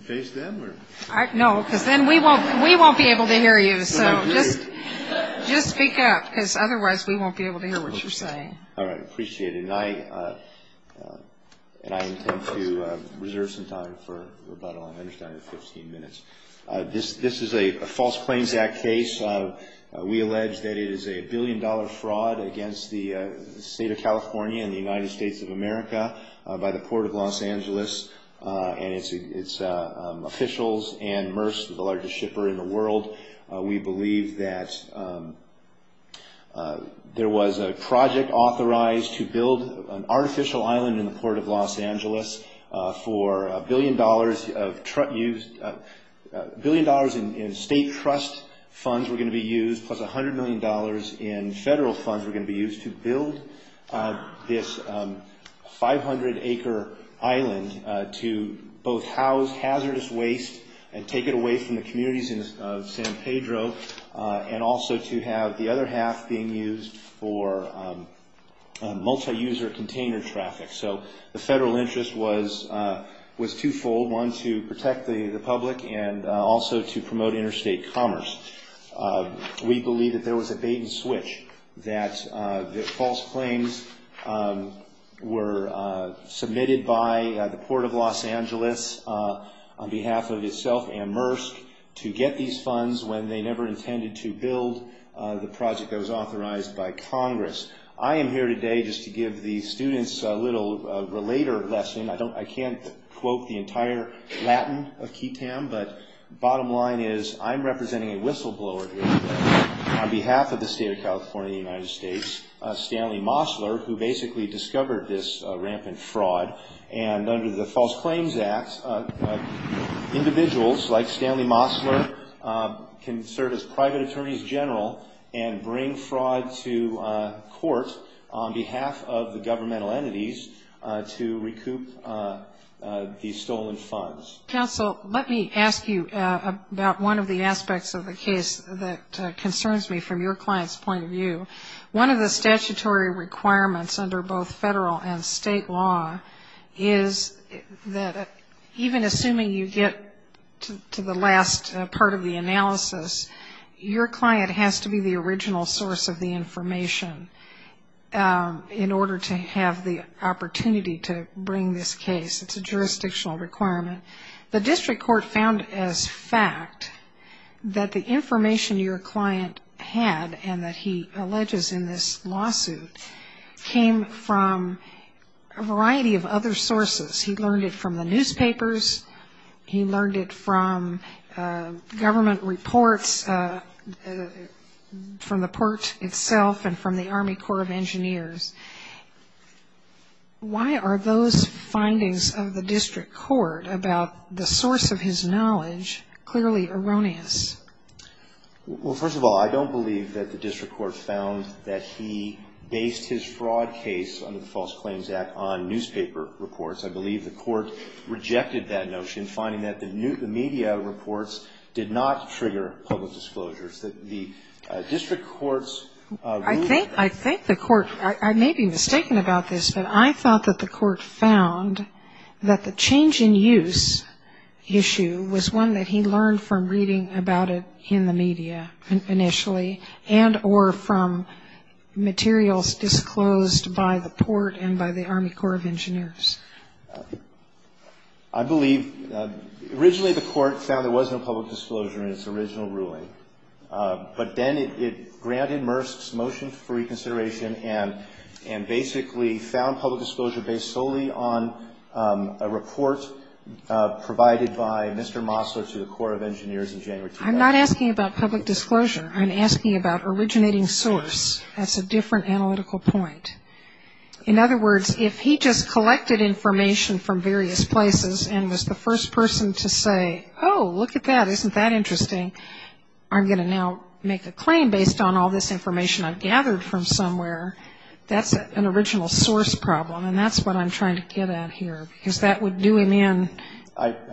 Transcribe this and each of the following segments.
to face them? No, because then we won't be able to hear you. So just speak up, because otherwise we won't be able to hear what you're saying. All right, I appreciate it. And I intend to reserve some time for rebuttal. I understand we have 15 minutes. This is a false claims act case. We allege that it is a billion-dollar fraud against the state of officials and MERS, the largest shipper in the world. We believe that there was a project authorized to build an artificial island in the port of Los Angeles for a billion dollars in state trust funds were going to be used, plus $100 million in federal funds were going to be used to build this 500-acre island to both house, hazard, and protect the island from hazardous waste and take it away from the communities of San Pedro and also to have the other half being used for multi-user container traffic. So the federal interest was twofold, one to protect the public and also to promote interstate commerce. We believe that there was a bait and switch, that the false claims were submitted by the port of Los Angeles on behalf of itself and MERS to get these funds when they never intended to build the project that was authorized by Congress. I am here today just to give the students a little relater lesson. I can't quote the entire Latin of Kitam, but bottom line is, I'm representing a whistleblower here today on behalf of the state of California and the United States, Stanley Mosler, who basically discovered this rampant fraud. And under the false claims act, individuals like Stanley Mosler can serve as private attorneys general and bring fraud to court on behalf of the governmental entities to recoup the stolen funds. Counsel, let me ask you about one of the aspects of the case that concerns me from your client's point of view. One of the statutory requirements under both federal and state law is that a even assuming you get to the last part of the analysis, your client has to be the original source of the information in order to have the opportunity to bring this case. It's a jurisdictional requirement. The district court found as fact that the information your client had and that he alleges in this lawsuit came from a variety of other sources. He learned it from the newspapers. He learned it from government reports, from the court itself and from the Army Corps of Engineers. Why are those findings of the district court about the source of his knowledge clearly erroneous? Well, first of all, I don't believe that the district court found that he based his fraud case under the False Claims Act on newspaper reports. I believe the court rejected that notion, finding that the media reports did not trigger public disclosures. The district court's ruling... I think the court, I may be mistaken about this, but I thought that the court found that the change in use issue was one that he learned from reading about it in the media initially and or from materials disclosed by the port and by the Army Corps of Engineers. I believe, originally the court found there was no public disclosure in its original ruling, but then it granted Mursk's motion for reconsideration and basically found public disclosure based solely on a report provided by Mr. Mosler to the Corps of Engineers in January 2009. I'm not asking about public disclosure. I'm asking about originating source. That's a different analytical point. In other words, if he just collected information from various places and was the first person to say, oh, look at that. Isn't that interesting? I'm going to now make a claim based on all this information I've gathered from somewhere. That's an original source problem and that's what I'm trying to get at here because that would do him in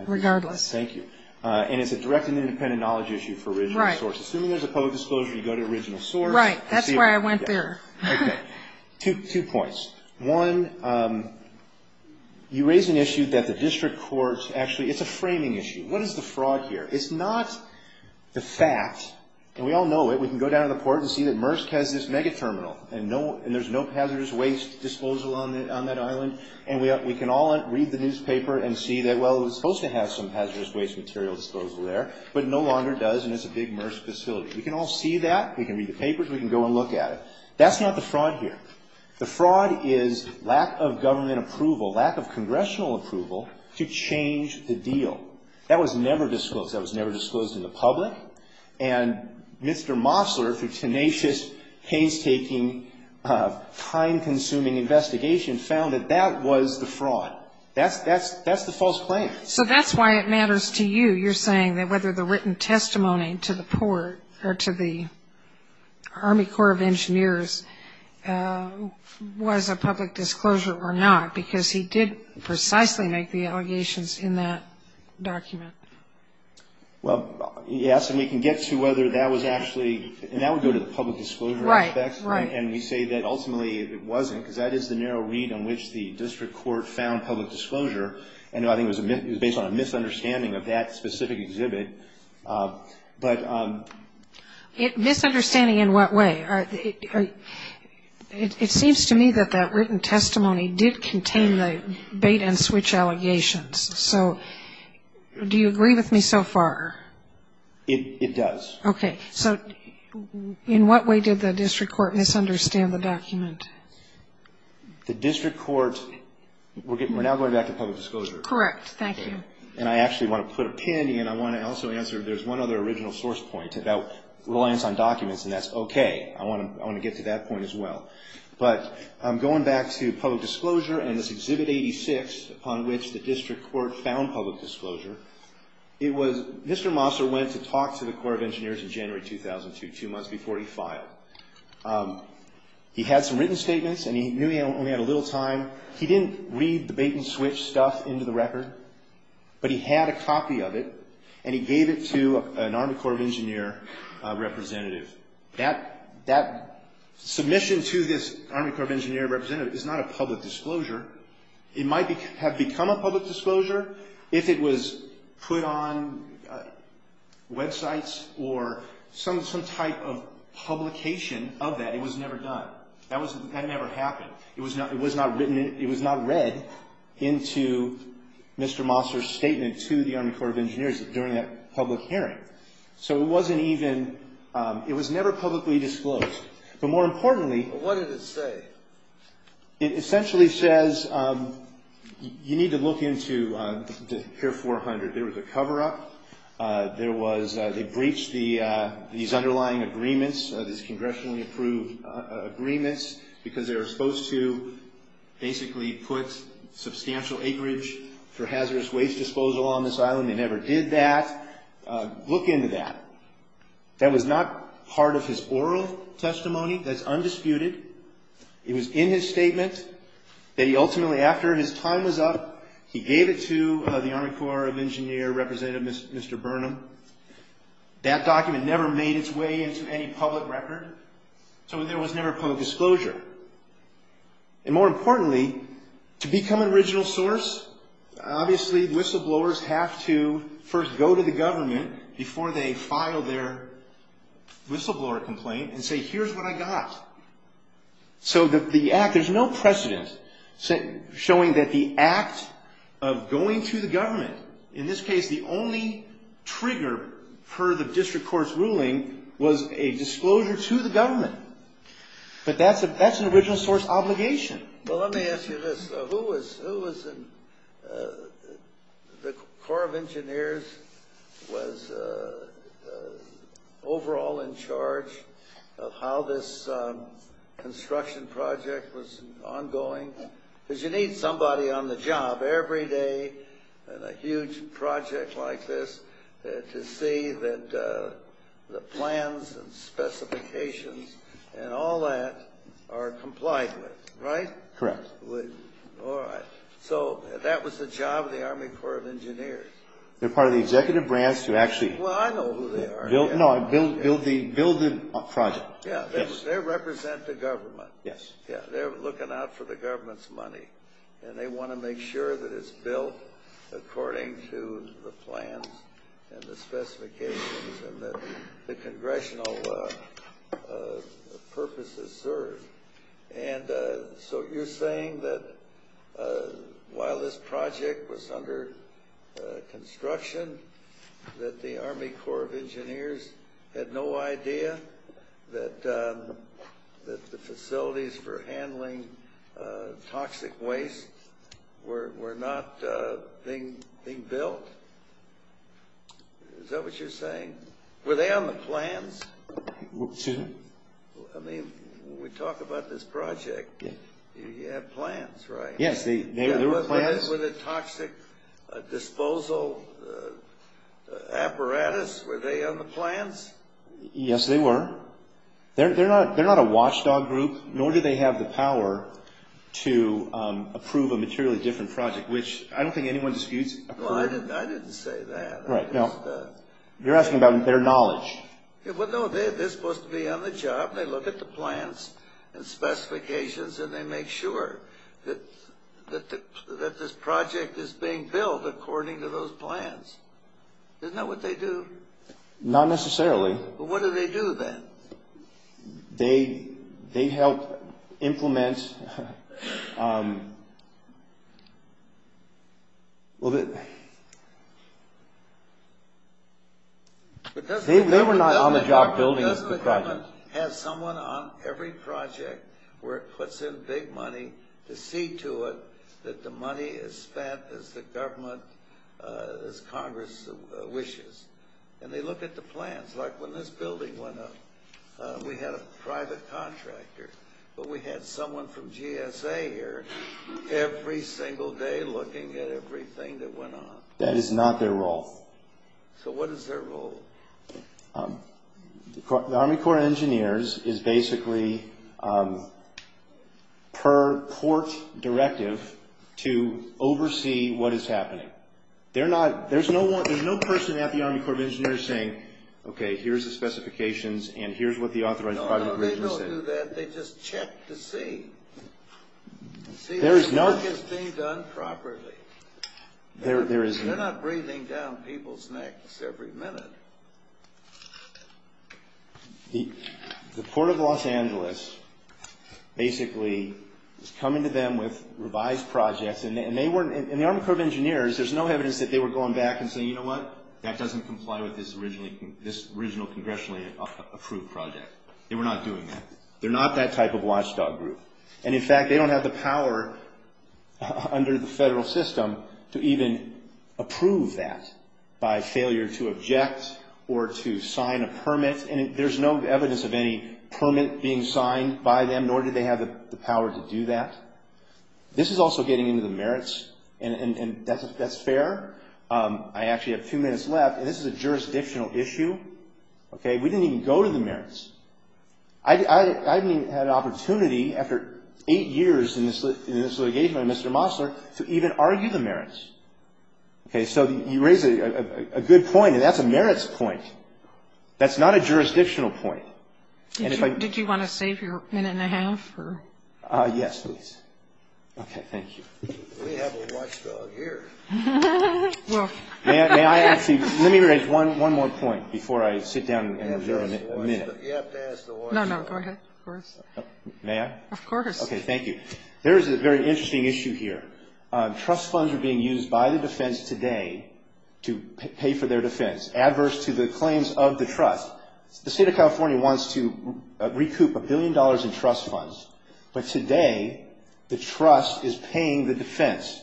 regardless. Thank you. And it's a direct and independent knowledge issue for original source. Right. Assuming there's a public disclosure, you go to original source. Right. That's why I went there. Okay. Two points. One, you raise an issue that the district courts actually, it's a framing issue. What is the fraud here? It's not the fact, and we all know it, we can go down to the port and see that Mursk has this mega terminal and there's no hazardous waste disposal on that island and we can all read the newspaper and see that, well, it was supposed to have some hazardous waste material disposal there but no longer does and it's a big Mursk facility. We can all see that. We can read the papers. We can go and look at it. That's not the fraud here. The fraud is lack of government approval, lack of congressional approval to change the deal. That was never disclosed. That was never disclosed in the public and Mr. Mosler, through tenacious, painstaking, time-consuming investigation, found that that was the fraud. That's the false claim. So that's why it matters to you. You're saying that whether the written testimony to the port or to the Army Corps of Engineers was a public disclosure or not because he did precisely make the allegations in that document. Well, yes, and we can get to whether that was actually, and that would go to the public disclosure aspect and we say that ultimately it wasn't because that is the narrow read on which the district court found public disclosure. I think it was based on a misunderstanding of that specific exhibit. Misunderstanding in what way? It seems to me that that written testimony did contain the bait and switch allegations. So do you agree with me so far? It does. Okay. So in what way did the district court misunderstand the document? The district court, we're now going back to public disclosure. Correct. Thank you. And I actually want to put a pin and I want to also answer, there's one other original source point about reliance on documents and that's okay. I want to get to that point as well. But going back to public disclosure and this Exhibit 86 upon which the district court found public disclosure, it was, Mr. Mosler went to talk to the Corps of Engineers in January 2002, two months before he filed. He had some written statements and he knew he only had a little time. He didn't read the bait and switch stuff into the record, but he had a copy of it and he gave it to an Army Corps of Engineers representative. That submission to this Army Corps of Engineers representative is not a public disclosure. It might have become a public disclosure if it was put on websites or some type of publication of that. It was never done. That never happened. It was not read into Mr. Mosler's statement to the Army Corps of Engineers during that public hearing. So it wasn't even, it was never publicly disclosed. But more importantly- What did it say? It essentially says you need to look into the Pier 400. There was a cover-up. There was, they breached these underlying agreements, these congressionally approved agreements because they were supposed to basically put substantial acreage for hazardous waste disposal on this island. They never did that. Look into that. That was not part of his oral testimony. That's undisputed. It was in his statement that he ultimately, after his time was up, he gave it to the Army Corps of Engineers representative, Mr. Burnham. That document never made its way into any public record. So there was never a public disclosure. And more importantly, to become an original source, obviously whistleblowers have to first go to the government before they file their whistleblower complaint and say, here's what I got. So that the act, there's no precedent showing that the act of going to the government, in this case the only trigger per the district court's ruling, was a disclosure to the government. But that's an original source obligation. Well, let me ask you this. Who was in, the Corps of Engineers was overall in charge of how this construction project was ongoing? Because you need somebody on the job every day on a huge project like this to see that the plans and specifications and all that are complied with, right? Correct. All right. So that was the job of the Army Corps of Engineers. They're part of the executive branch to actually Well, I know who they are. No, build the project. Yeah, they represent the government. Yes. Yeah, they're looking out for the government's money. And they want to make sure that it's built according to the plans and the specifications and that the congressional purpose is served. And so you're saying that while this project was under construction, that the Army Corps of Engineers had no idea that the facilities for handling toxic waste were not being built? Is that what you're saying? Were they on the plans? Excuse me? I mean, when we talk about this project, you have plans, right? Yes, there were plans. Were they toxic disposal apparatus? Were they on the plans? Yes, they were. They're not a watchdog group, nor do they have the power to approve a materially different project, which I don't think anyone disputes. Well, I didn't say that. Right, no. You're asking about their knowledge. Well, no, they're supposed to be on the job. They look at the plans and specifications, and they make sure that this project is being built according to those plans. Isn't that what they do? Not necessarily. Well, what do they do then? They help implement... They were not on the job building the project. They have someone on every project where it puts in big money to see to it that the money is spent as the government, as Congress wishes. And they look at the plans, like when this building went up. We had a private contractor, but we had someone from GSA here every single day looking at everything that went on. That is not their role. So what is their role? The Army Corps of Engineers is basically, per court directive, to oversee what is happening. There's no person at the Army Corps of Engineers saying, okay, here's the specifications, and here's what the authorized private engineers said. No, they don't do that. They just check to see. There is no... To see if the work is being done properly. There is no... The Port of Los Angeles basically is coming to them with revised projects. And the Army Corps of Engineers, there's no evidence that they were going back and saying, you know what? That doesn't comply with this original congressionally approved project. They were not doing that. They're not that type of watchdog group. And in fact, they don't have the power under the federal system to even approve that by failure to object or to sign a permit. And there's no evidence of any permit being signed by them, nor do they have the power to do that. This is also getting into the merits, and that's fair. I actually have two minutes left, and this is a jurisdictional issue. We didn't even go to the merits. I haven't even had an opportunity after eight years in this litigation by Mr. Mosler to even argue the merits. Okay, so you raise a good point, and that's a merits point. That's not a jurisdictional point. And if I... Did you want to save your minute and a half? Yes, please. Okay, thank you. We have a watchdog here. May I actually... Let me raise one more point before I sit down and reserve a minute. You have to ask the watchdog. No, no, go ahead, of course. May I? Of course. Okay, thank you. There is a very interesting issue here. Trust funds are being used by the defense today to pay for their defense, adverse to the claims of the trust. The state of California wants to recoup a billion dollars in trust funds, but today the trust is paying the defense.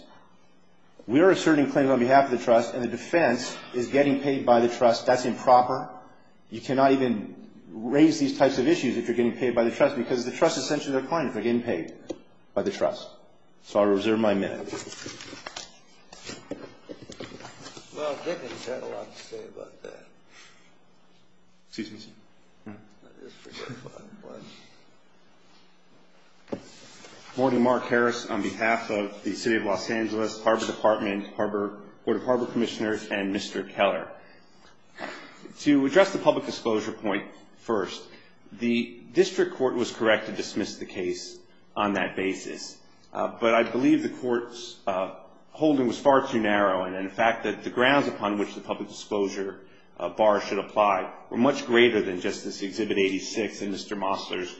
We are asserting claims on behalf of the trust, and the defense is getting paid by the trust. That's improper. You cannot even raise these types of issues if you're getting paid by the trust, because the trust is essentially their client. They're getting paid by the trust. So I reserve my minute. Well, Dickens had a lot to say about that. Excuse me, sir. I just forgot about one. Good morning. Mark Harris on behalf of the City of Los Angeles, Harbor Department, Board of Harbor Commissioners, and Mr. Keller. To address the public disclosure point first, the district court was correct to dismiss the case on that basis, but I believe the court's holding was far too narrow, and, in fact, that the grounds upon which the public disclosure bar should apply were much greater than just this Exhibit 86 and Mr. Mosler's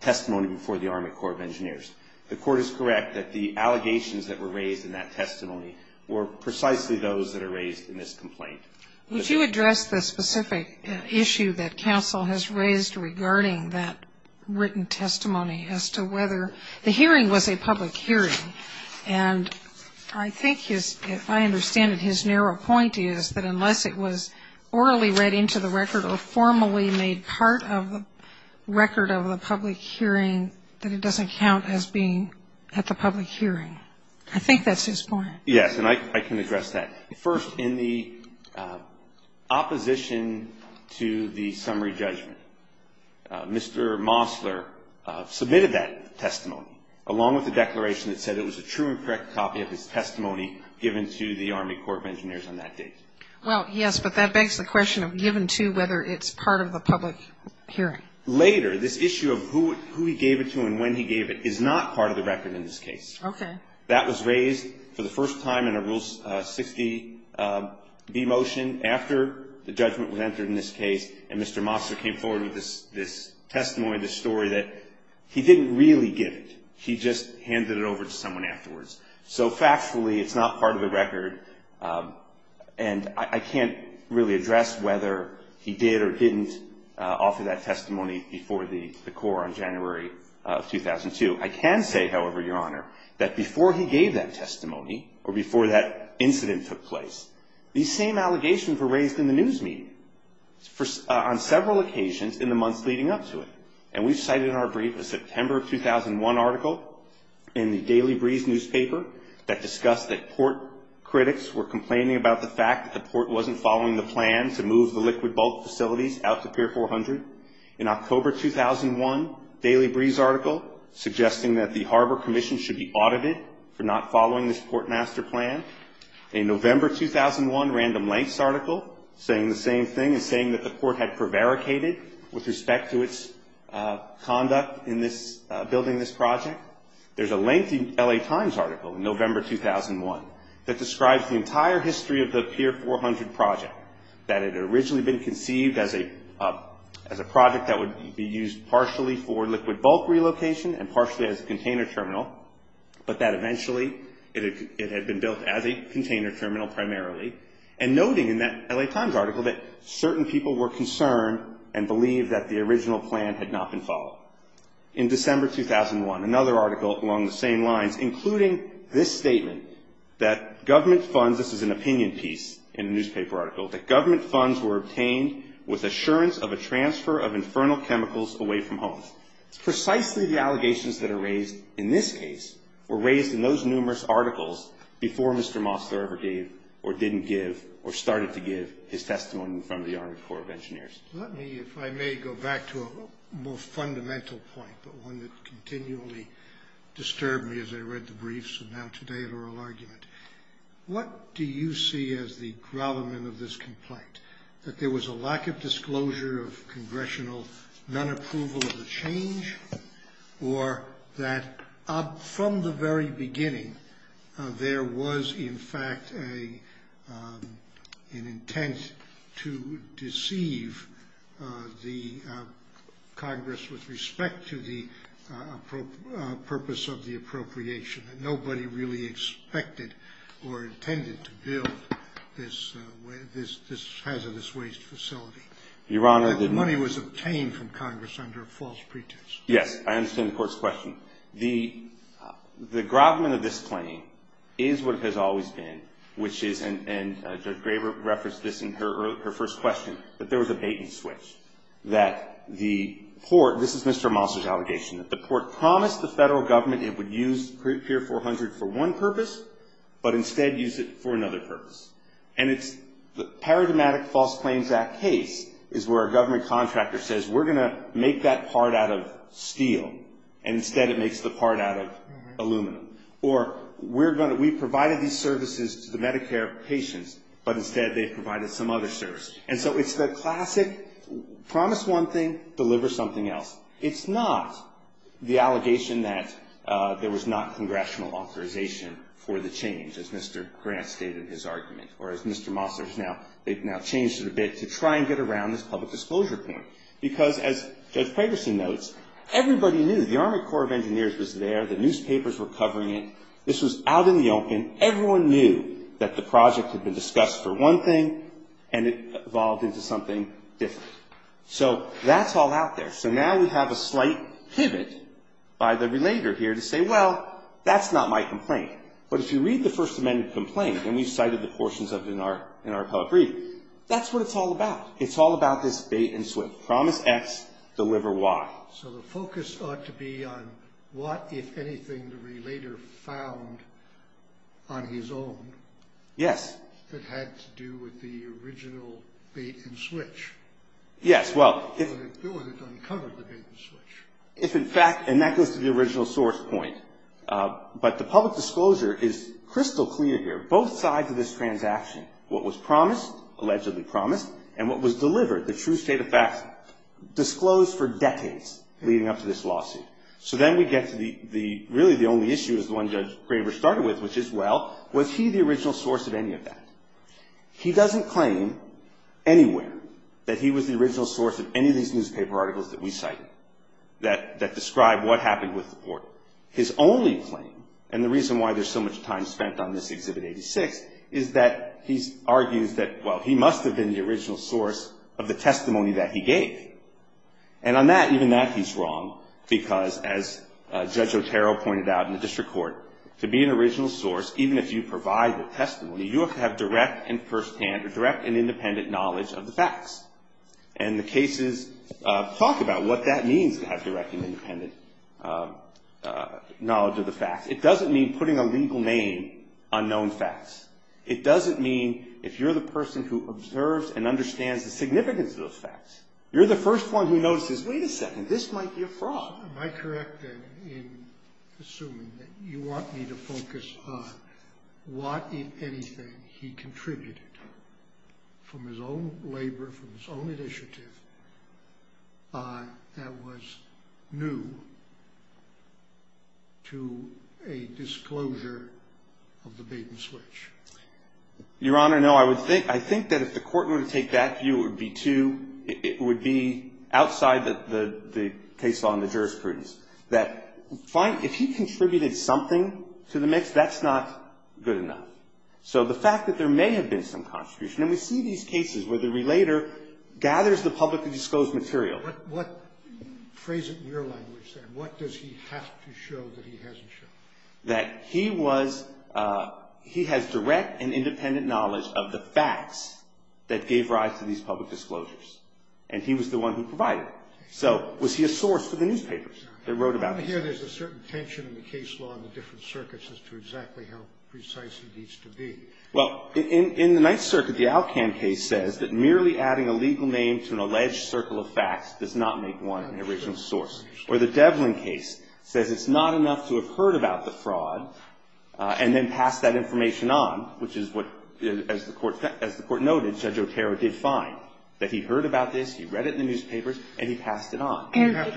testimony before the Army Corps of Engineers. The court is correct that the allegations that were raised in that testimony were precisely those that are raised in this complaint. Would you address the specific issue that counsel has raised regarding that written testimony as to whether the hearing was a public hearing? And I think his, if I understand it, his narrow point is that unless it was orally read into the record or formally made part of the record of the public hearing, that it doesn't count as being at the public hearing. I think that's his point. Yes, and I can address that. First, in the opposition to the summary judgment, Mr. Mosler submitted that testimony along with a declaration that said it was a true and correct copy of his testimony given to the Army Corps of Engineers on that date. Well, yes, but that begs the question of given to whether it's part of the public hearing. Later, this issue of who he gave it to and when he gave it is not part of the record in this case. Okay. That was raised for the first time in a Rule 60B motion after the judgment was entered in this case and Mr. Mosler came forward with this testimony, this story, that he didn't really give it. He just handed it over to someone afterwards. So, factually, it's not part of the record and I can't really address whether he did or didn't offer that testimony before the Corps on January of 2002. I can say, however, Your Honor, that before he gave that testimony or before that incident took place, these same allegations were raised in the news meeting on several occasions in the months leading up to it. And we've cited in our brief a September of 2001 article in the Daily Breeze newspaper that discussed that port critics were complaining about the fact that the port wasn't following the plan to move the liquid bulk facilities out to Pier 400. In October 2001, Daily Breeze article suggesting that the Harbor Commission should be audited for not following this portmaster plan. In November 2001, Random Lengths article saying the same thing and saying that the port had prevaricated with respect to its conduct in building this project. There's a lengthy L.A. Times article in November 2001 that describes the entire history of the Pier 400 project, that it had originally been conceived as a project that would be used partially for liquid bulk relocation and partially as a container terminal, but that eventually it had been built as a container terminal primarily. And noting in that L.A. Times article that certain people were concerned and believed that the original plan had not been followed. In December 2001, another article along the same lines including this statement that government funds, this is an opinion piece in a newspaper article, that government funds were obtained with assurance of a transfer of infernal chemicals away from homes. It's precisely the allegations that are raised in this case were raised in those numerous articles before Mr. Mosler ever gave or didn't give or started to give his testimony in front of the Army Corps of Engineers. Let me, if I may, go back to a more fundamental point, but one that continually disturbed me as I read the briefs and now today at oral argument. What do you see as the grovelment of this complaint? That there was a lack of disclosure of congressional non-approval of the change or that from the very beginning there was in fact an intent to deceive the Congress with respect to the purpose of the appropriation. Nobody really expected or intended to build this hazardous waste facility. Your Honor, the money was obtained from Congress under a false pretext. Yes, I understand the court's question. The grovelment of this claim is what it has always been, which is, and Judge Graber referenced this in her first question, that there was a bait and switch. That the court, this is Mr. Mosler's allegation, that the court promised the Federal Government it would use Pier 400 for one purpose, but instead use it for another purpose. And it's the Paradigmatic False Claims Act case is where a government contractor says we're going to make that part out of steel and instead it makes the part out of aluminum. Or we've provided these services to the Medicare patients, but instead they've provided some other service. And so it's the classic promise one thing, deliver something else. It's not the allegation that there was not congressional authorization for the change, as Mr. Grant stated in his argument. Or as Mr. Mosler has now, they've now changed it a bit to try and get around this public disclosure point. Because as Judge Paterson notes, everybody knew. The Army Corps of Engineers was there. The newspapers were covering it. This was out in the open. Everyone knew that the project had been discussed for one thing and it evolved into something different. So that's all out there. So now we have a slight pivot by the relator here to say, well, that's not my complaint. But if you read the First Amendment complaint, and we've cited the portions of it in our public reading, that's what it's all about. It's all about this bait and switch. Promise X, deliver Y. So the focus ought to be on what, if anything, the relator found on his own. Yes. That had to do with the original bait and switch. Yes, well. Or that uncovered the bait and switch. If in fact, and that goes to the original source point. But the public disclosure is crystal clear here. Both sides of this transaction, what was promised, allegedly promised, and what was delivered, the true state of facts, disclosed for decades leading up to this lawsuit. So then we get to the, really the only issue is the one Judge Graber started with, which is, well, was he the original source of any of that? He doesn't claim anywhere that he was the original source of any of these newspaper articles that we cited that describe what happened with the court. His only claim, and the reason why there's so much time spent on this Exhibit 86, is that he argues that, well, he must have been the original source of the testimony that he gave. And on that, even that he's wrong because, as Judge Otero pointed out in the district court, to be an original source, even if you provide the testimony, you have to have direct and firsthand or direct and independent knowledge of the facts. And the cases talk about what that means to have direct and independent knowledge of the facts. It doesn't mean putting a legal name on known facts. It doesn't mean, if you're the person who observes and understands the significance of those facts, you're the first one who notices, wait a second, this might be a fraud. Am I correct in assuming that you want me to focus on what, if anything, he contributed from his own labor, from his own initiative, that was new to a disclosure of the Baden switch? Your Honor, no. I think that if the court were to take that view, it would be outside the case law and the jurisprudence, that if he contributed something to the mix, that's not good enough. So the fact that there may have been some contribution, and we see these cases where the relator gathers the publicly disclosed material. What, phrase it in your language there, what does he have to show that he hasn't shown? That he was, he has direct and independent knowledge of the facts that gave rise to these public disclosures. And he was the one who provided them. So was he a source for the newspapers that wrote about it? I want to hear there's a certain tension in the case law in the different circuits as to exactly how precise he needs to be. Well, in the Ninth Circuit, the Alcan case says that merely adding a legal name to an alleged circle of facts does not make one an original source. Or the Devlin case says it's not enough to have heard about the fraud and then pass that information on, which is what, as the Court noted, Judge Otero did find, that he heard about this, he read it in the newspapers, and he passed it on. Do you have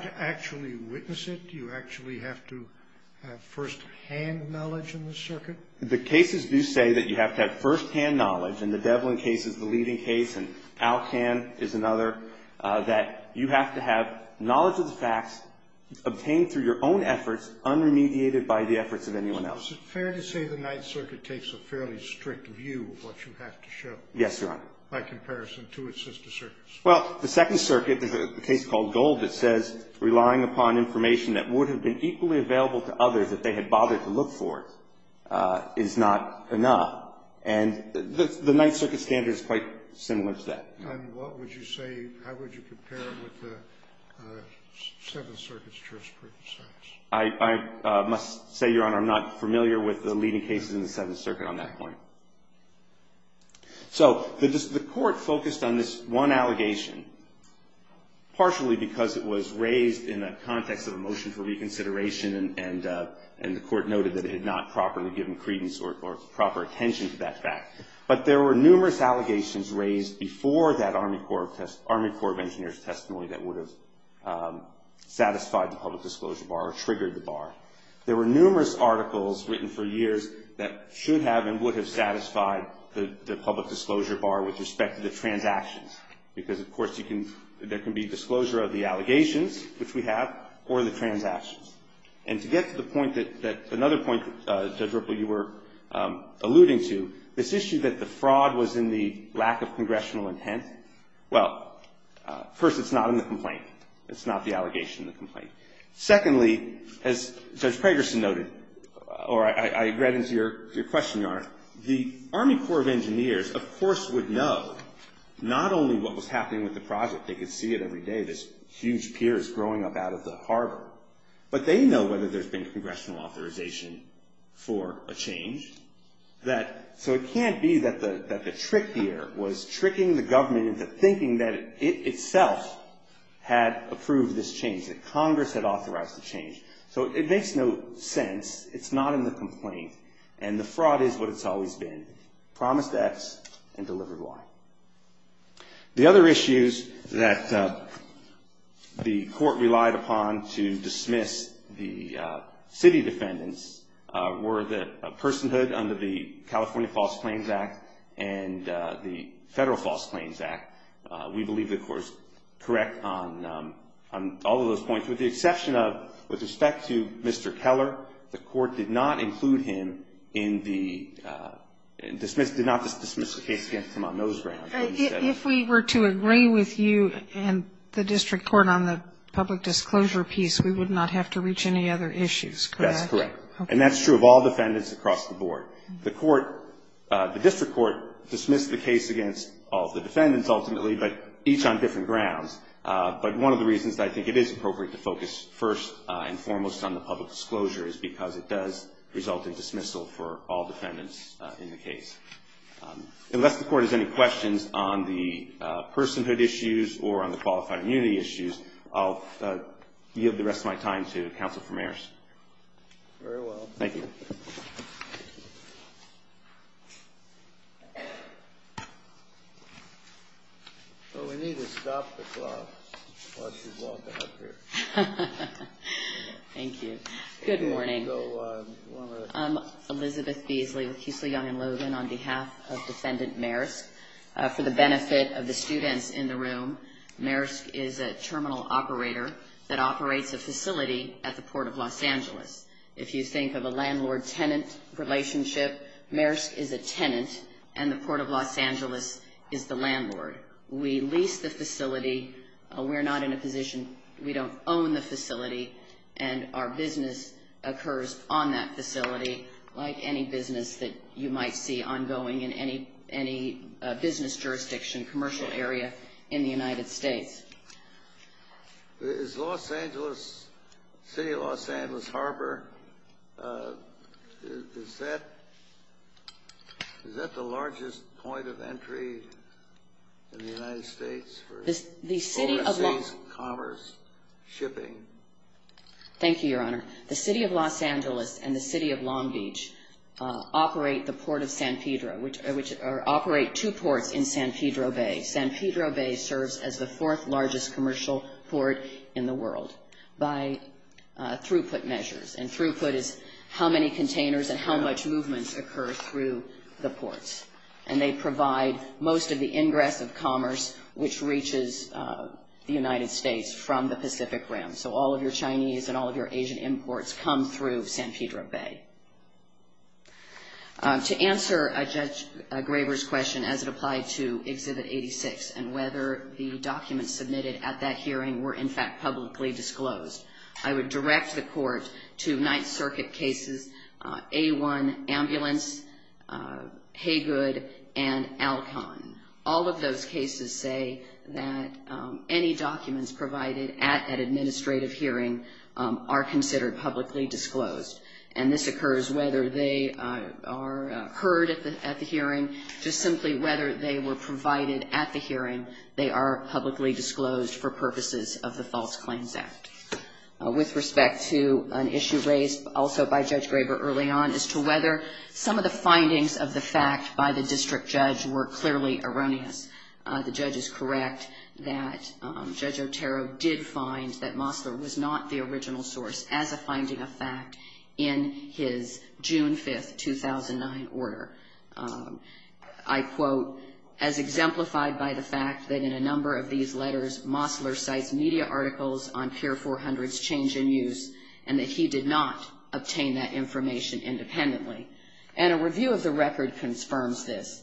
to actually witness it? Do you actually have to have firsthand knowledge in the circuit? The cases do say that you have to have firsthand knowledge, and the Devlin case is the leading case, and Alcan is another, that you have to have knowledge of the facts obtained through your own efforts, unremediated by the efforts of anyone else. Is it fair to say the Ninth Circuit takes a fairly strict view of what you have to show? Yes, Your Honor. By comparison to its sister circuits? Well, the Second Circuit, there's a case called Gold that says relying upon information that would have been equally available to others if they had bothered to look for it is not enough, and the Ninth Circuit standard is quite similar to that. And what would you say, how would you compare it with the Seventh Circuit's jurisprudence on this? I must say, Your Honor, I'm not familiar with the leading cases in the Seventh Circuit on that point. So the court focused on this one allegation, partially because it was raised in a context of a motion for reconsideration, and the court noted that it had not properly given credence or proper attention to that fact. But there were numerous allegations raised before that Army Corps of Engineers testimony that would have satisfied the public disclosure bar or triggered the bar. There were numerous articles written for years that should have and would have satisfied the public disclosure bar with respect to the transactions. Because, of course, there can be disclosure of the allegations, which we have, or the transactions. And to get to the point that another point, Judge Ripple, you were alluding to, this issue that the fraud was in the lack of congressional intent, well, first, it's not in the complaint. It's not the allegation in the complaint. Secondly, as Judge Pragerson noted, or I read into your question, Your Honor, the Army Corps of Engineers, of course, would know not only what was happening with the project, they could see it every day, these huge piers growing up out of the harbor, but they know whether there's been congressional authorization for a change. So it can't be that the trick here was tricking the government into thinking that it itself had approved this change. That Congress had authorized the change. So it makes no sense. It's not in the complaint. And the fraud is what it's always been, promised X and delivered Y. The other issues that the court relied upon to dismiss the city defendants were the personhood under the California False Claims Act and the Federal False Claims Act. We believe, of course, correct on all of those points, with the exception of, with respect to Mr. Keller, the court did not include him in the – did not dismiss the case against him on those grounds. But he said it. If we were to agree with you and the district court on the public disclosure piece, we would not have to reach any other issues, could I? That's correct. And that's true of all defendants across the board. The court – the district court dismissed the case against all of the defendants ultimately, but each on different grounds. But one of the reasons I think it is appropriate to focus first and foremost on the public disclosure is because it does result in dismissal for all defendants in the case. Unless the court has any questions on the personhood issues or on the qualified immunity issues, I'll give the rest of my time to counsel for mayors. Very well. Thank you. Well, we need to stop the clock while she's walking up here. Thank you. Good morning. Elizabeth Beasley with Keesley Young & Logan on behalf of Defendant Maresk. For the benefit of the students in the room, Maresk is a terminal operator that operates a facility at the Port of Los Angeles. If you think of a landlord-tenant relationship, Maresk is a tenant, and the Port of Los Angeles is the landlord. We lease the facility. We're not in a position – we don't own the facility, and our business occurs on that facility like any business that you might see ongoing in any business jurisdiction, commercial area in the United States. Is Los Angeles – City of Los Angeles Harbor, is that the largest point of entry in the United States for overseas commerce shipping? Thank you, Your Honor. The City of Los Angeles and the City of Long Beach operate the Port of San Pedro or operate two ports in San Pedro Bay. San Pedro Bay serves as the fourth-largest commercial port in the world by throughput measures, and throughput is how many containers and how much movement occurs through the ports. And they provide most of the ingress of commerce which reaches the United States from the Pacific Rim. So all of your Chinese and all of your Asian imports come through San Pedro Bay. To answer Judge Graber's question as it applied to Exhibit 86 and whether the documents submitted at that hearing were in fact publicly disclosed, I would direct the court to Ninth Circuit cases A-1, Ambulance, Haygood, and Alcon. All of those cases say that any documents provided at an administrative hearing are considered publicly disclosed. And this occurs whether they are heard at the hearing, just simply whether they were provided at the hearing, they are publicly disclosed for purposes of the False Claims Act. With respect to an issue raised also by Judge Graber early on as to whether some of the findings of the fact by the district judge were clearly erroneous, the judge is correct that Judge Otero did find that Mossler was not the original source as a finding of fact in his June 5, 2009 order. I quote, as exemplified by the fact that in a number of these letters, Mossler cites media articles on Pier 400's change in use and that he did not obtain that information independently. And a review of the record confirms this.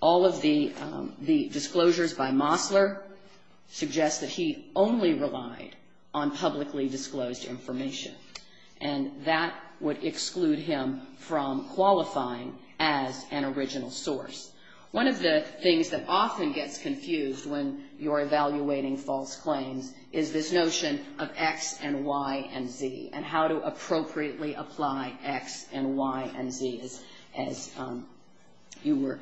All of the disclosures by Mossler suggest that he only relied on publicly disclosed information, and that would exclude him from qualifying as an original source. One of the things that often gets confused when you're evaluating false claims is this notion of X and Y and Z and how to appropriately apply X and Y and Z, as you were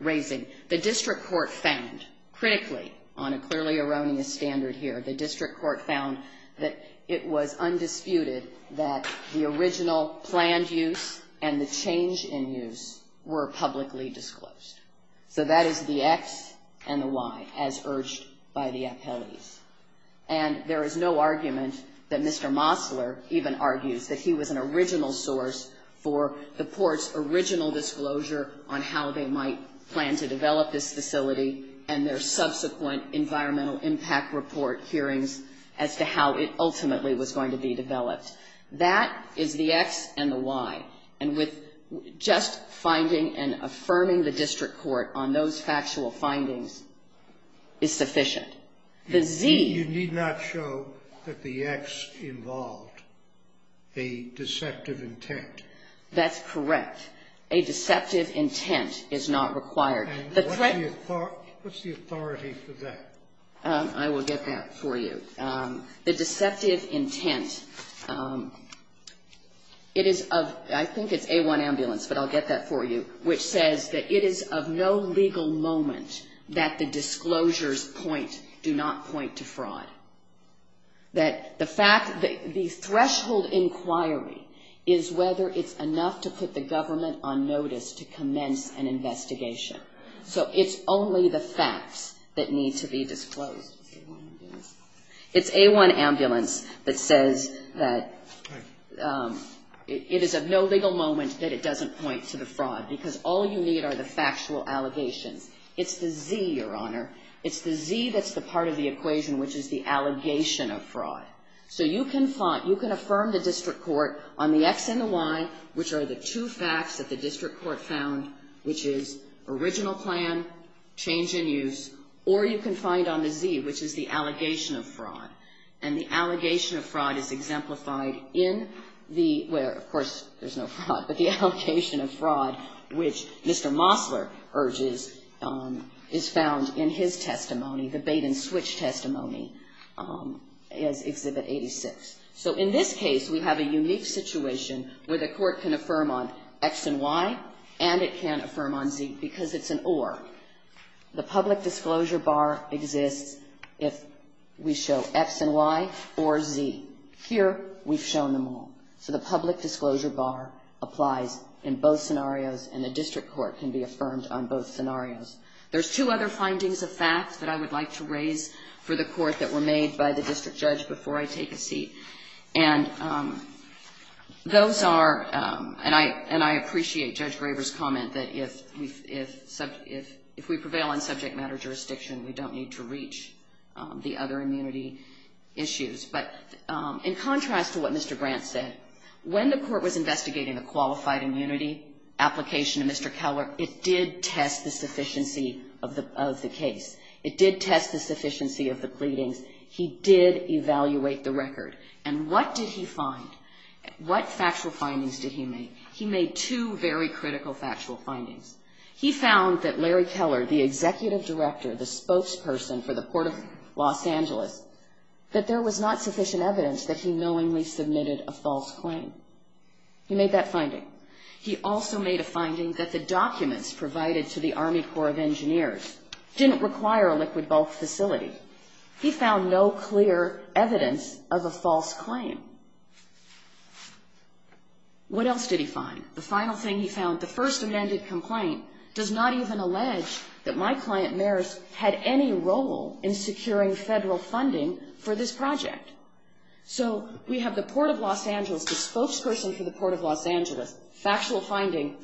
raising. The district court found, critically, on a clearly erroneous standard here, the district court found that it was undisputed that the original planned use and the change in use were publicly disclosed. So that is the X and the Y, as urged by the appellees. And there is no argument that Mr. Mossler even argues that he was an original source for the court's original disclosure on how they might plan to develop this facility and their subsequent environmental impact report hearings as to how it ultimately was going to be developed. That is the X and the Y. And with just finding and affirming the district court on those factual findings is sufficient. The Z. You need not show that the X involved a deceptive intent. That's correct. A deceptive intent is not required. What's the authority for that? I will get that for you. The deceptive intent, it is of, I think it's A1 Ambulance, but I'll get that for you, which says that it is of no legal moment that the disclosures point, do not point to fraud. That the fact, the threshold inquiry is whether it's enough to put the government on notice to commence an investigation. So it's only the facts that need to be disclosed. It's A1 Ambulance that says that it is of no legal moment that it doesn't point to the fraud, because all you need are the factual allegations. It's the Z, Your Honor. It's the Z that's the part of the equation, which is the allegation of fraud. So you can affirm the district court on the X and the Y, which are the two facts that the district court found, which is original plan, change in use, or you can find on the Z, which is the allegation of fraud. And the allegation of fraud is exemplified in the, where, of course, there's no fraud, but the allegation of fraud, which Mr. Mosler urges, is found in his testimony, the bait and switch testimony, as Exhibit 86. So in this case, we have a unique situation where the court can affirm on X and Y, and it can't affirm on Z, because it's an or. The public disclosure bar exists if we show X and Y or Z. Here, we've shown them all. So the public disclosure bar applies in both scenarios, and the district court can be affirmed on both scenarios. There's two other findings of facts that I would like to raise for the court that were made by the district judge before I take a seat, and those are, and I appreciate Judge Graber's comment that if we prevail on subject matter jurisdiction, we don't need to reach the other immunity issues. But in contrast to what Mr. Grant said, when the court was investigating the qualified immunity application of Mr. Keller, it did test the sufficiency of the case. It did test the sufficiency of the pleadings. He did evaluate the record. And what did he find? What factual findings did he make? He made two very critical factual findings. He found that Larry Keller, the executive director, the spokesperson for the court of Los Angeles, that there was not sufficient evidence that he knowingly submitted a false claim. He made that finding. He also made a finding that the documents provided to the Army Corps of Engineers didn't require a liquid-bulk facility. He found no clear evidence of a false claim. What else did he find? The final thing he found, the first amended complaint does not even allege that my client, Maris, had any role in securing federal funding for this project. So we have the port of Los Angeles, the spokesperson for the port of Los Angeles, factual finding,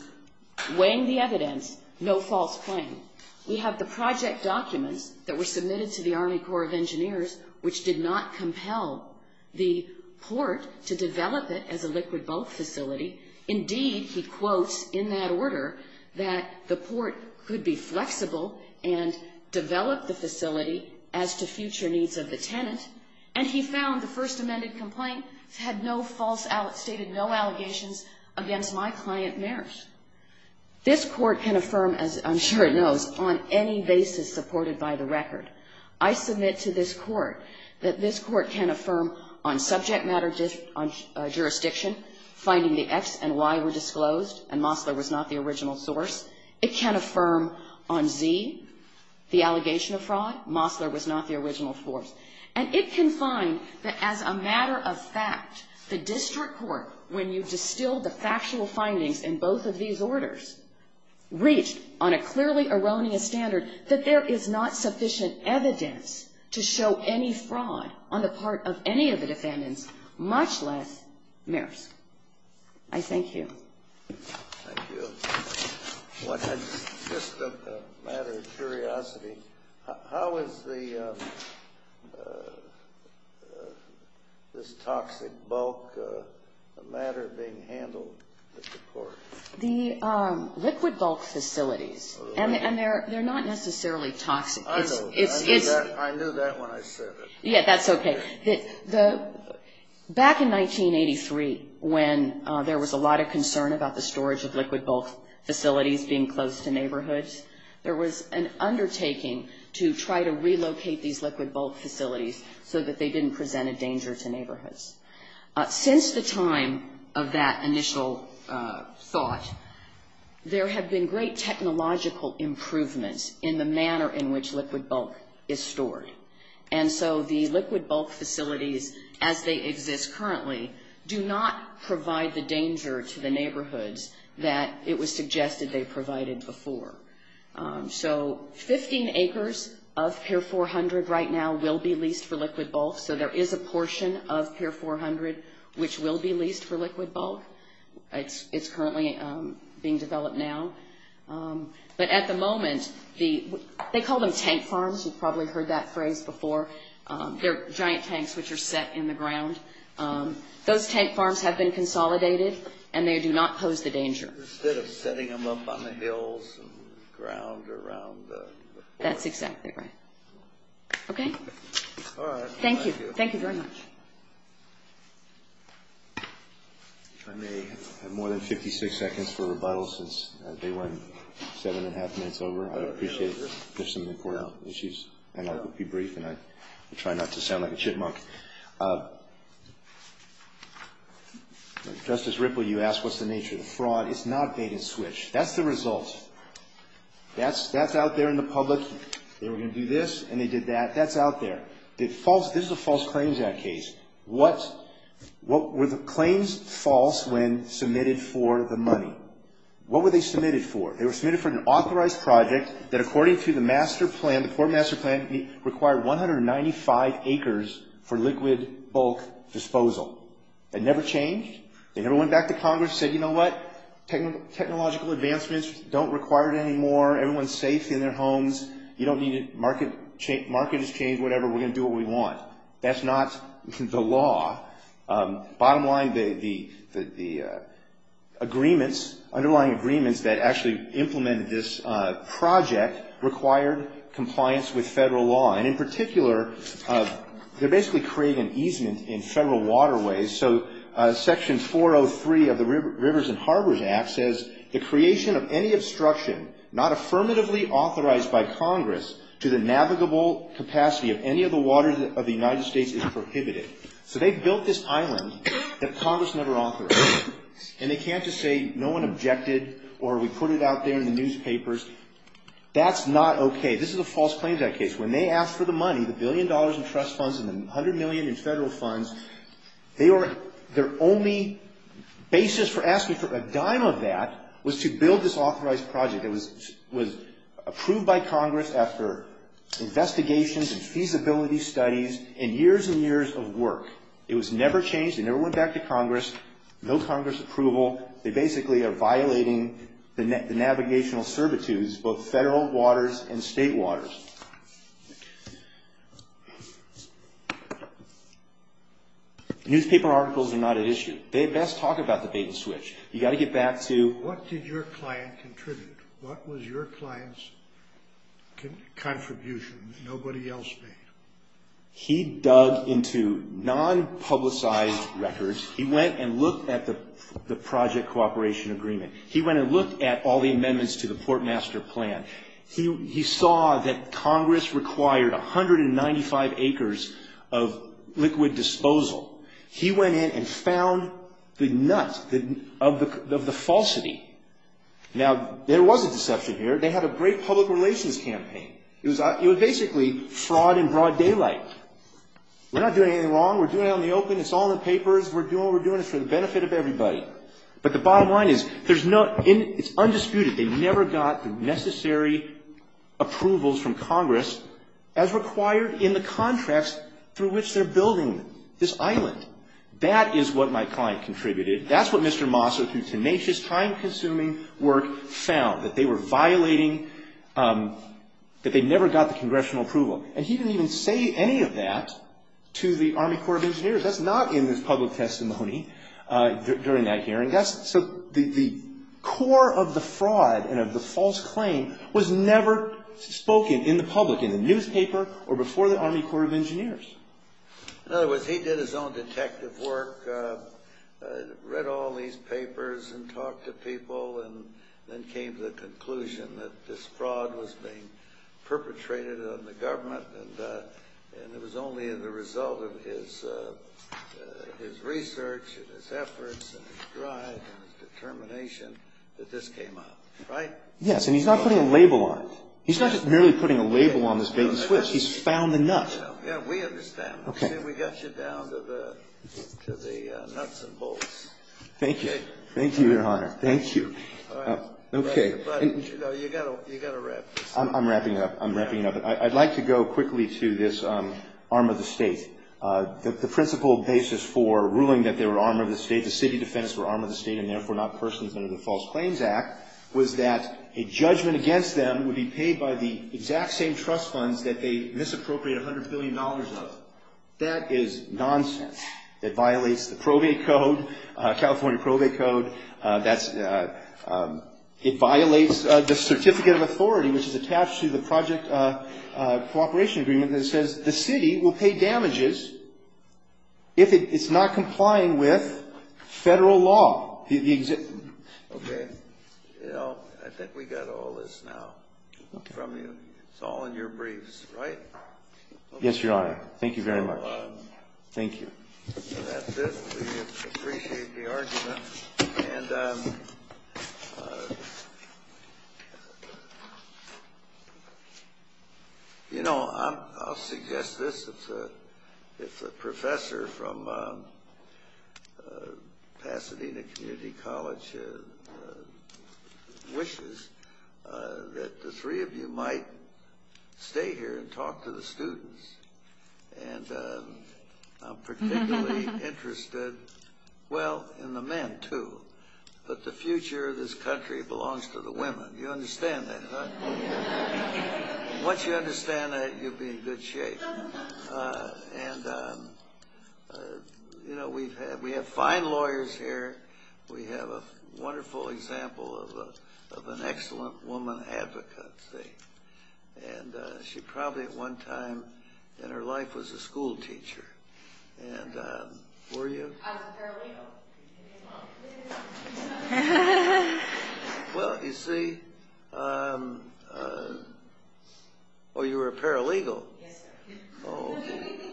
weighing the evidence, no false claim. We have the project documents that were submitted to the Army Corps of Engineers which did not compel the port to develop it as a liquid-bulk facility. Indeed, he quotes in that order that the port could be flexible and develop the facility as to future needs of the tenant. And he found the first amended complaint had no false allegations, stated no allegations against my client, Maris. This Court can affirm, as I'm sure it knows, on any basis supported by the record. I submit to this Court that this Court can affirm on subject matter jurisdiction finding the X and Y were disclosed and Mosler was not the original source. It can affirm on Z, the allegation of fraud, Mosler was not the original source. And it can find that as a matter of fact, the district court, when you distilled the factual findings in both of these orders, reached on a clearly erroneous standard that there is not sufficient evidence to show any fraud on the part of any of the defendants, much less Maris. I thank you. Thank you. Just a matter of curiosity. How is this toxic bulk a matter being handled at the court? The liquid-bulk facilities, and they're not necessarily toxic. I know that. I knew that when I said it. Yes, that's okay. Back in 1983, when there was a lot of concern about the storage of liquid-bulk facilities being closed to neighborhoods, there was an undertaking to try to relocate these liquid-bulk facilities so that they didn't present a danger to neighborhoods. Since the time of that initial thought, there have been great technological improvements in the manner in which liquid-bulk is stored. And so the liquid-bulk facilities, as they exist currently, do not provide the danger to the neighborhoods that it was suggested they provided before. So 15 acres of Pier 400 right now will be leased for liquid-bulk, so there is a portion of Pier 400 which will be leased for liquid-bulk. It's currently being developed now. But at the moment, they call them tank farms. You've probably heard that phrase before. They're giant tanks which are set in the ground. Those tank farms have been consolidated, and they do not pose the danger. Instead of setting them up on the hills and ground around the quarry. That's exactly right. Okay? All right. Thank you. Thank you very much. I may have more than 56 seconds for rebuttals since they went 7 1⁄2 minutes over. I appreciate it. There's some important issues, and I will be brief, and I try not to sound like a chipmunk. Justice Ripple, you asked what's the nature of the fraud. It's not bait and switch. That's the result. That's out there in the public. They were going to do this, and they did that. That's out there. This is a False Claims Act case. What were the claims false when submitted for the money? What were they submitted for? They were submitted for an authorized project that, according to the master plan, the Port Master Plan, required 195 acres for liquid bulk disposal. That never changed. They never went back to Congress and said, you know what? Technological advancements don't require it anymore. Everyone's safe in their homes. You don't need it. Market has changed. Whatever. We're going to do what we want. That's not the law. Bottom line, the agreements, underlying agreements, that actually implemented this project required compliance with federal law. And in particular, they're basically creating easement in federal waterways. So Section 403 of the Rivers and Harbors Act says, the creation of any obstruction not affirmatively authorized by Congress to the navigable capacity of any of the waters of the United States is prohibited. So they built this island that Congress never authorized. And they can't just say, no one objected, or we put it out there in the newspapers. That's not okay. This is a false claim to that case. When they asked for the money, the billion dollars in trust funds and the $100 million in federal funds, their only basis for asking for a dime of that was to build this authorized project. It was approved by Congress after investigations and feasibility studies and years and years of work. It was never changed. It never went back to Congress. No Congress approval. They basically are violating the navigational servitudes, both federal waters and state waters. Newspaper articles are not at issue. They best talk about the bait and switch. You've got to get back to what did your client contribute? What was your client's contribution that nobody else made? He dug into non-publicized records. He went and looked at the project cooperation agreement. He went and looked at all the amendments to the portmaster plan. He saw that Congress required 195 acres of liquid disposal. He went in and found the nuts of the falsity. Now, there was a deception here. They had a great public relations campaign. It was basically fraud in broad daylight. We're not doing anything wrong. We're doing it on the open. It's all in the papers. We're doing what we're doing. It's for the benefit of everybody. But the bottom line is it's undisputed. They never got the necessary approvals from Congress as required in the contracts through which they're building this island. That is what my client contributed. That's what Mr. Mosser, through tenacious, time-consuming work, found, that they were violating, that they never got the congressional approval. And he didn't even say any of that to the Army Corps of Engineers. That's not in his public testimony during that hearing. So the core of the fraud and of the false claim was never spoken in the public, in the newspaper or before the Army Corps of Engineers. In other words, he did his own detective work, read all these papers and talked to people and then came to the conclusion that this fraud was being perpetrated on the government and it was only in the result of his research and his efforts and his drive and his determination that this came up, right? Yes, and he's not putting a label on it. He's not just merely putting a label on this bait and switch. He's found the nut. Yeah, we understand. We got you down to the nuts and bolts. Thank you. Thank you, Your Honor. Thank you. All right. Okay. But, you know, you've got to wrap this up. I'm wrapping it up. I'm wrapping it up. I'd like to go quickly to this arm of the state. The principal basis for ruling that they were arm of the state, the city defense were arm of the state and, therefore, not persons under the False Claims Act, was that a judgment against them would be paid by the exact same trust funds that they misappropriate $100 billion of. That is nonsense. It violates the probate code, California probate code. It violates the certificate of authority, which is attached to the project cooperation agreement that says the city will pay damages if it's not complying with federal law. Okay. I think we got all this now from you. It's all in your briefs, right? Yes, Your Honor. Thank you very much. Thank you. That's it. We appreciate the argument. And, you know, I'll suggest this. If the professor from Pasadena Community College wishes, that the three of you might stay here and talk to the students. And I'm particularly interested, well, in the men, too. But the future of this country belongs to the women. You understand that, huh? Once you understand that, you'll be in good shape. And, you know, we have fine lawyers here. We have a wonderful example of an excellent woman advocate. And she probably at one time in her life was a schoolteacher. And were you? I was a paralegal. Well, you see, oh, you were a paralegal? Yes, sir.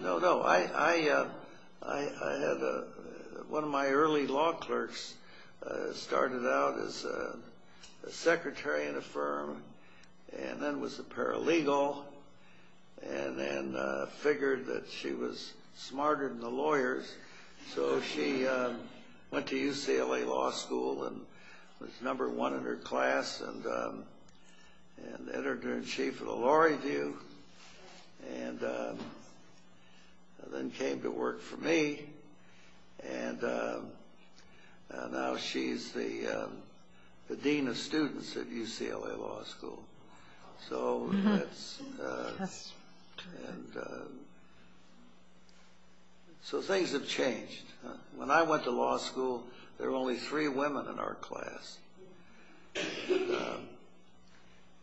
No, no. I had one of my early law clerks started out as a secretary in a firm and then was a paralegal and then figured that she was smarter than the lawyers. So she went to UCLA Law School and was number one in her class and entered her in chief of the law review and then came to work for me. And now she's the dean of students at UCLA Law School. So things have changed. When I went to law school, there were only three women in our class.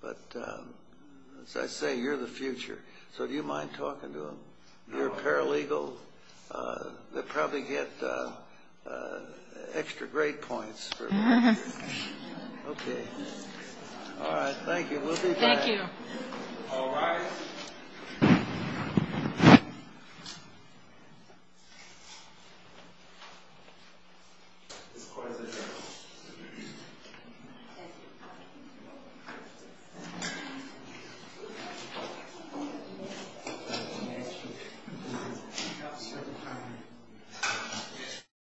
But as I say, you're the future. So do you mind talking to them? You're a paralegal? They'll probably get extra grade points for that. Okay. All right. Thank you. We'll be back. Thank you. All rise.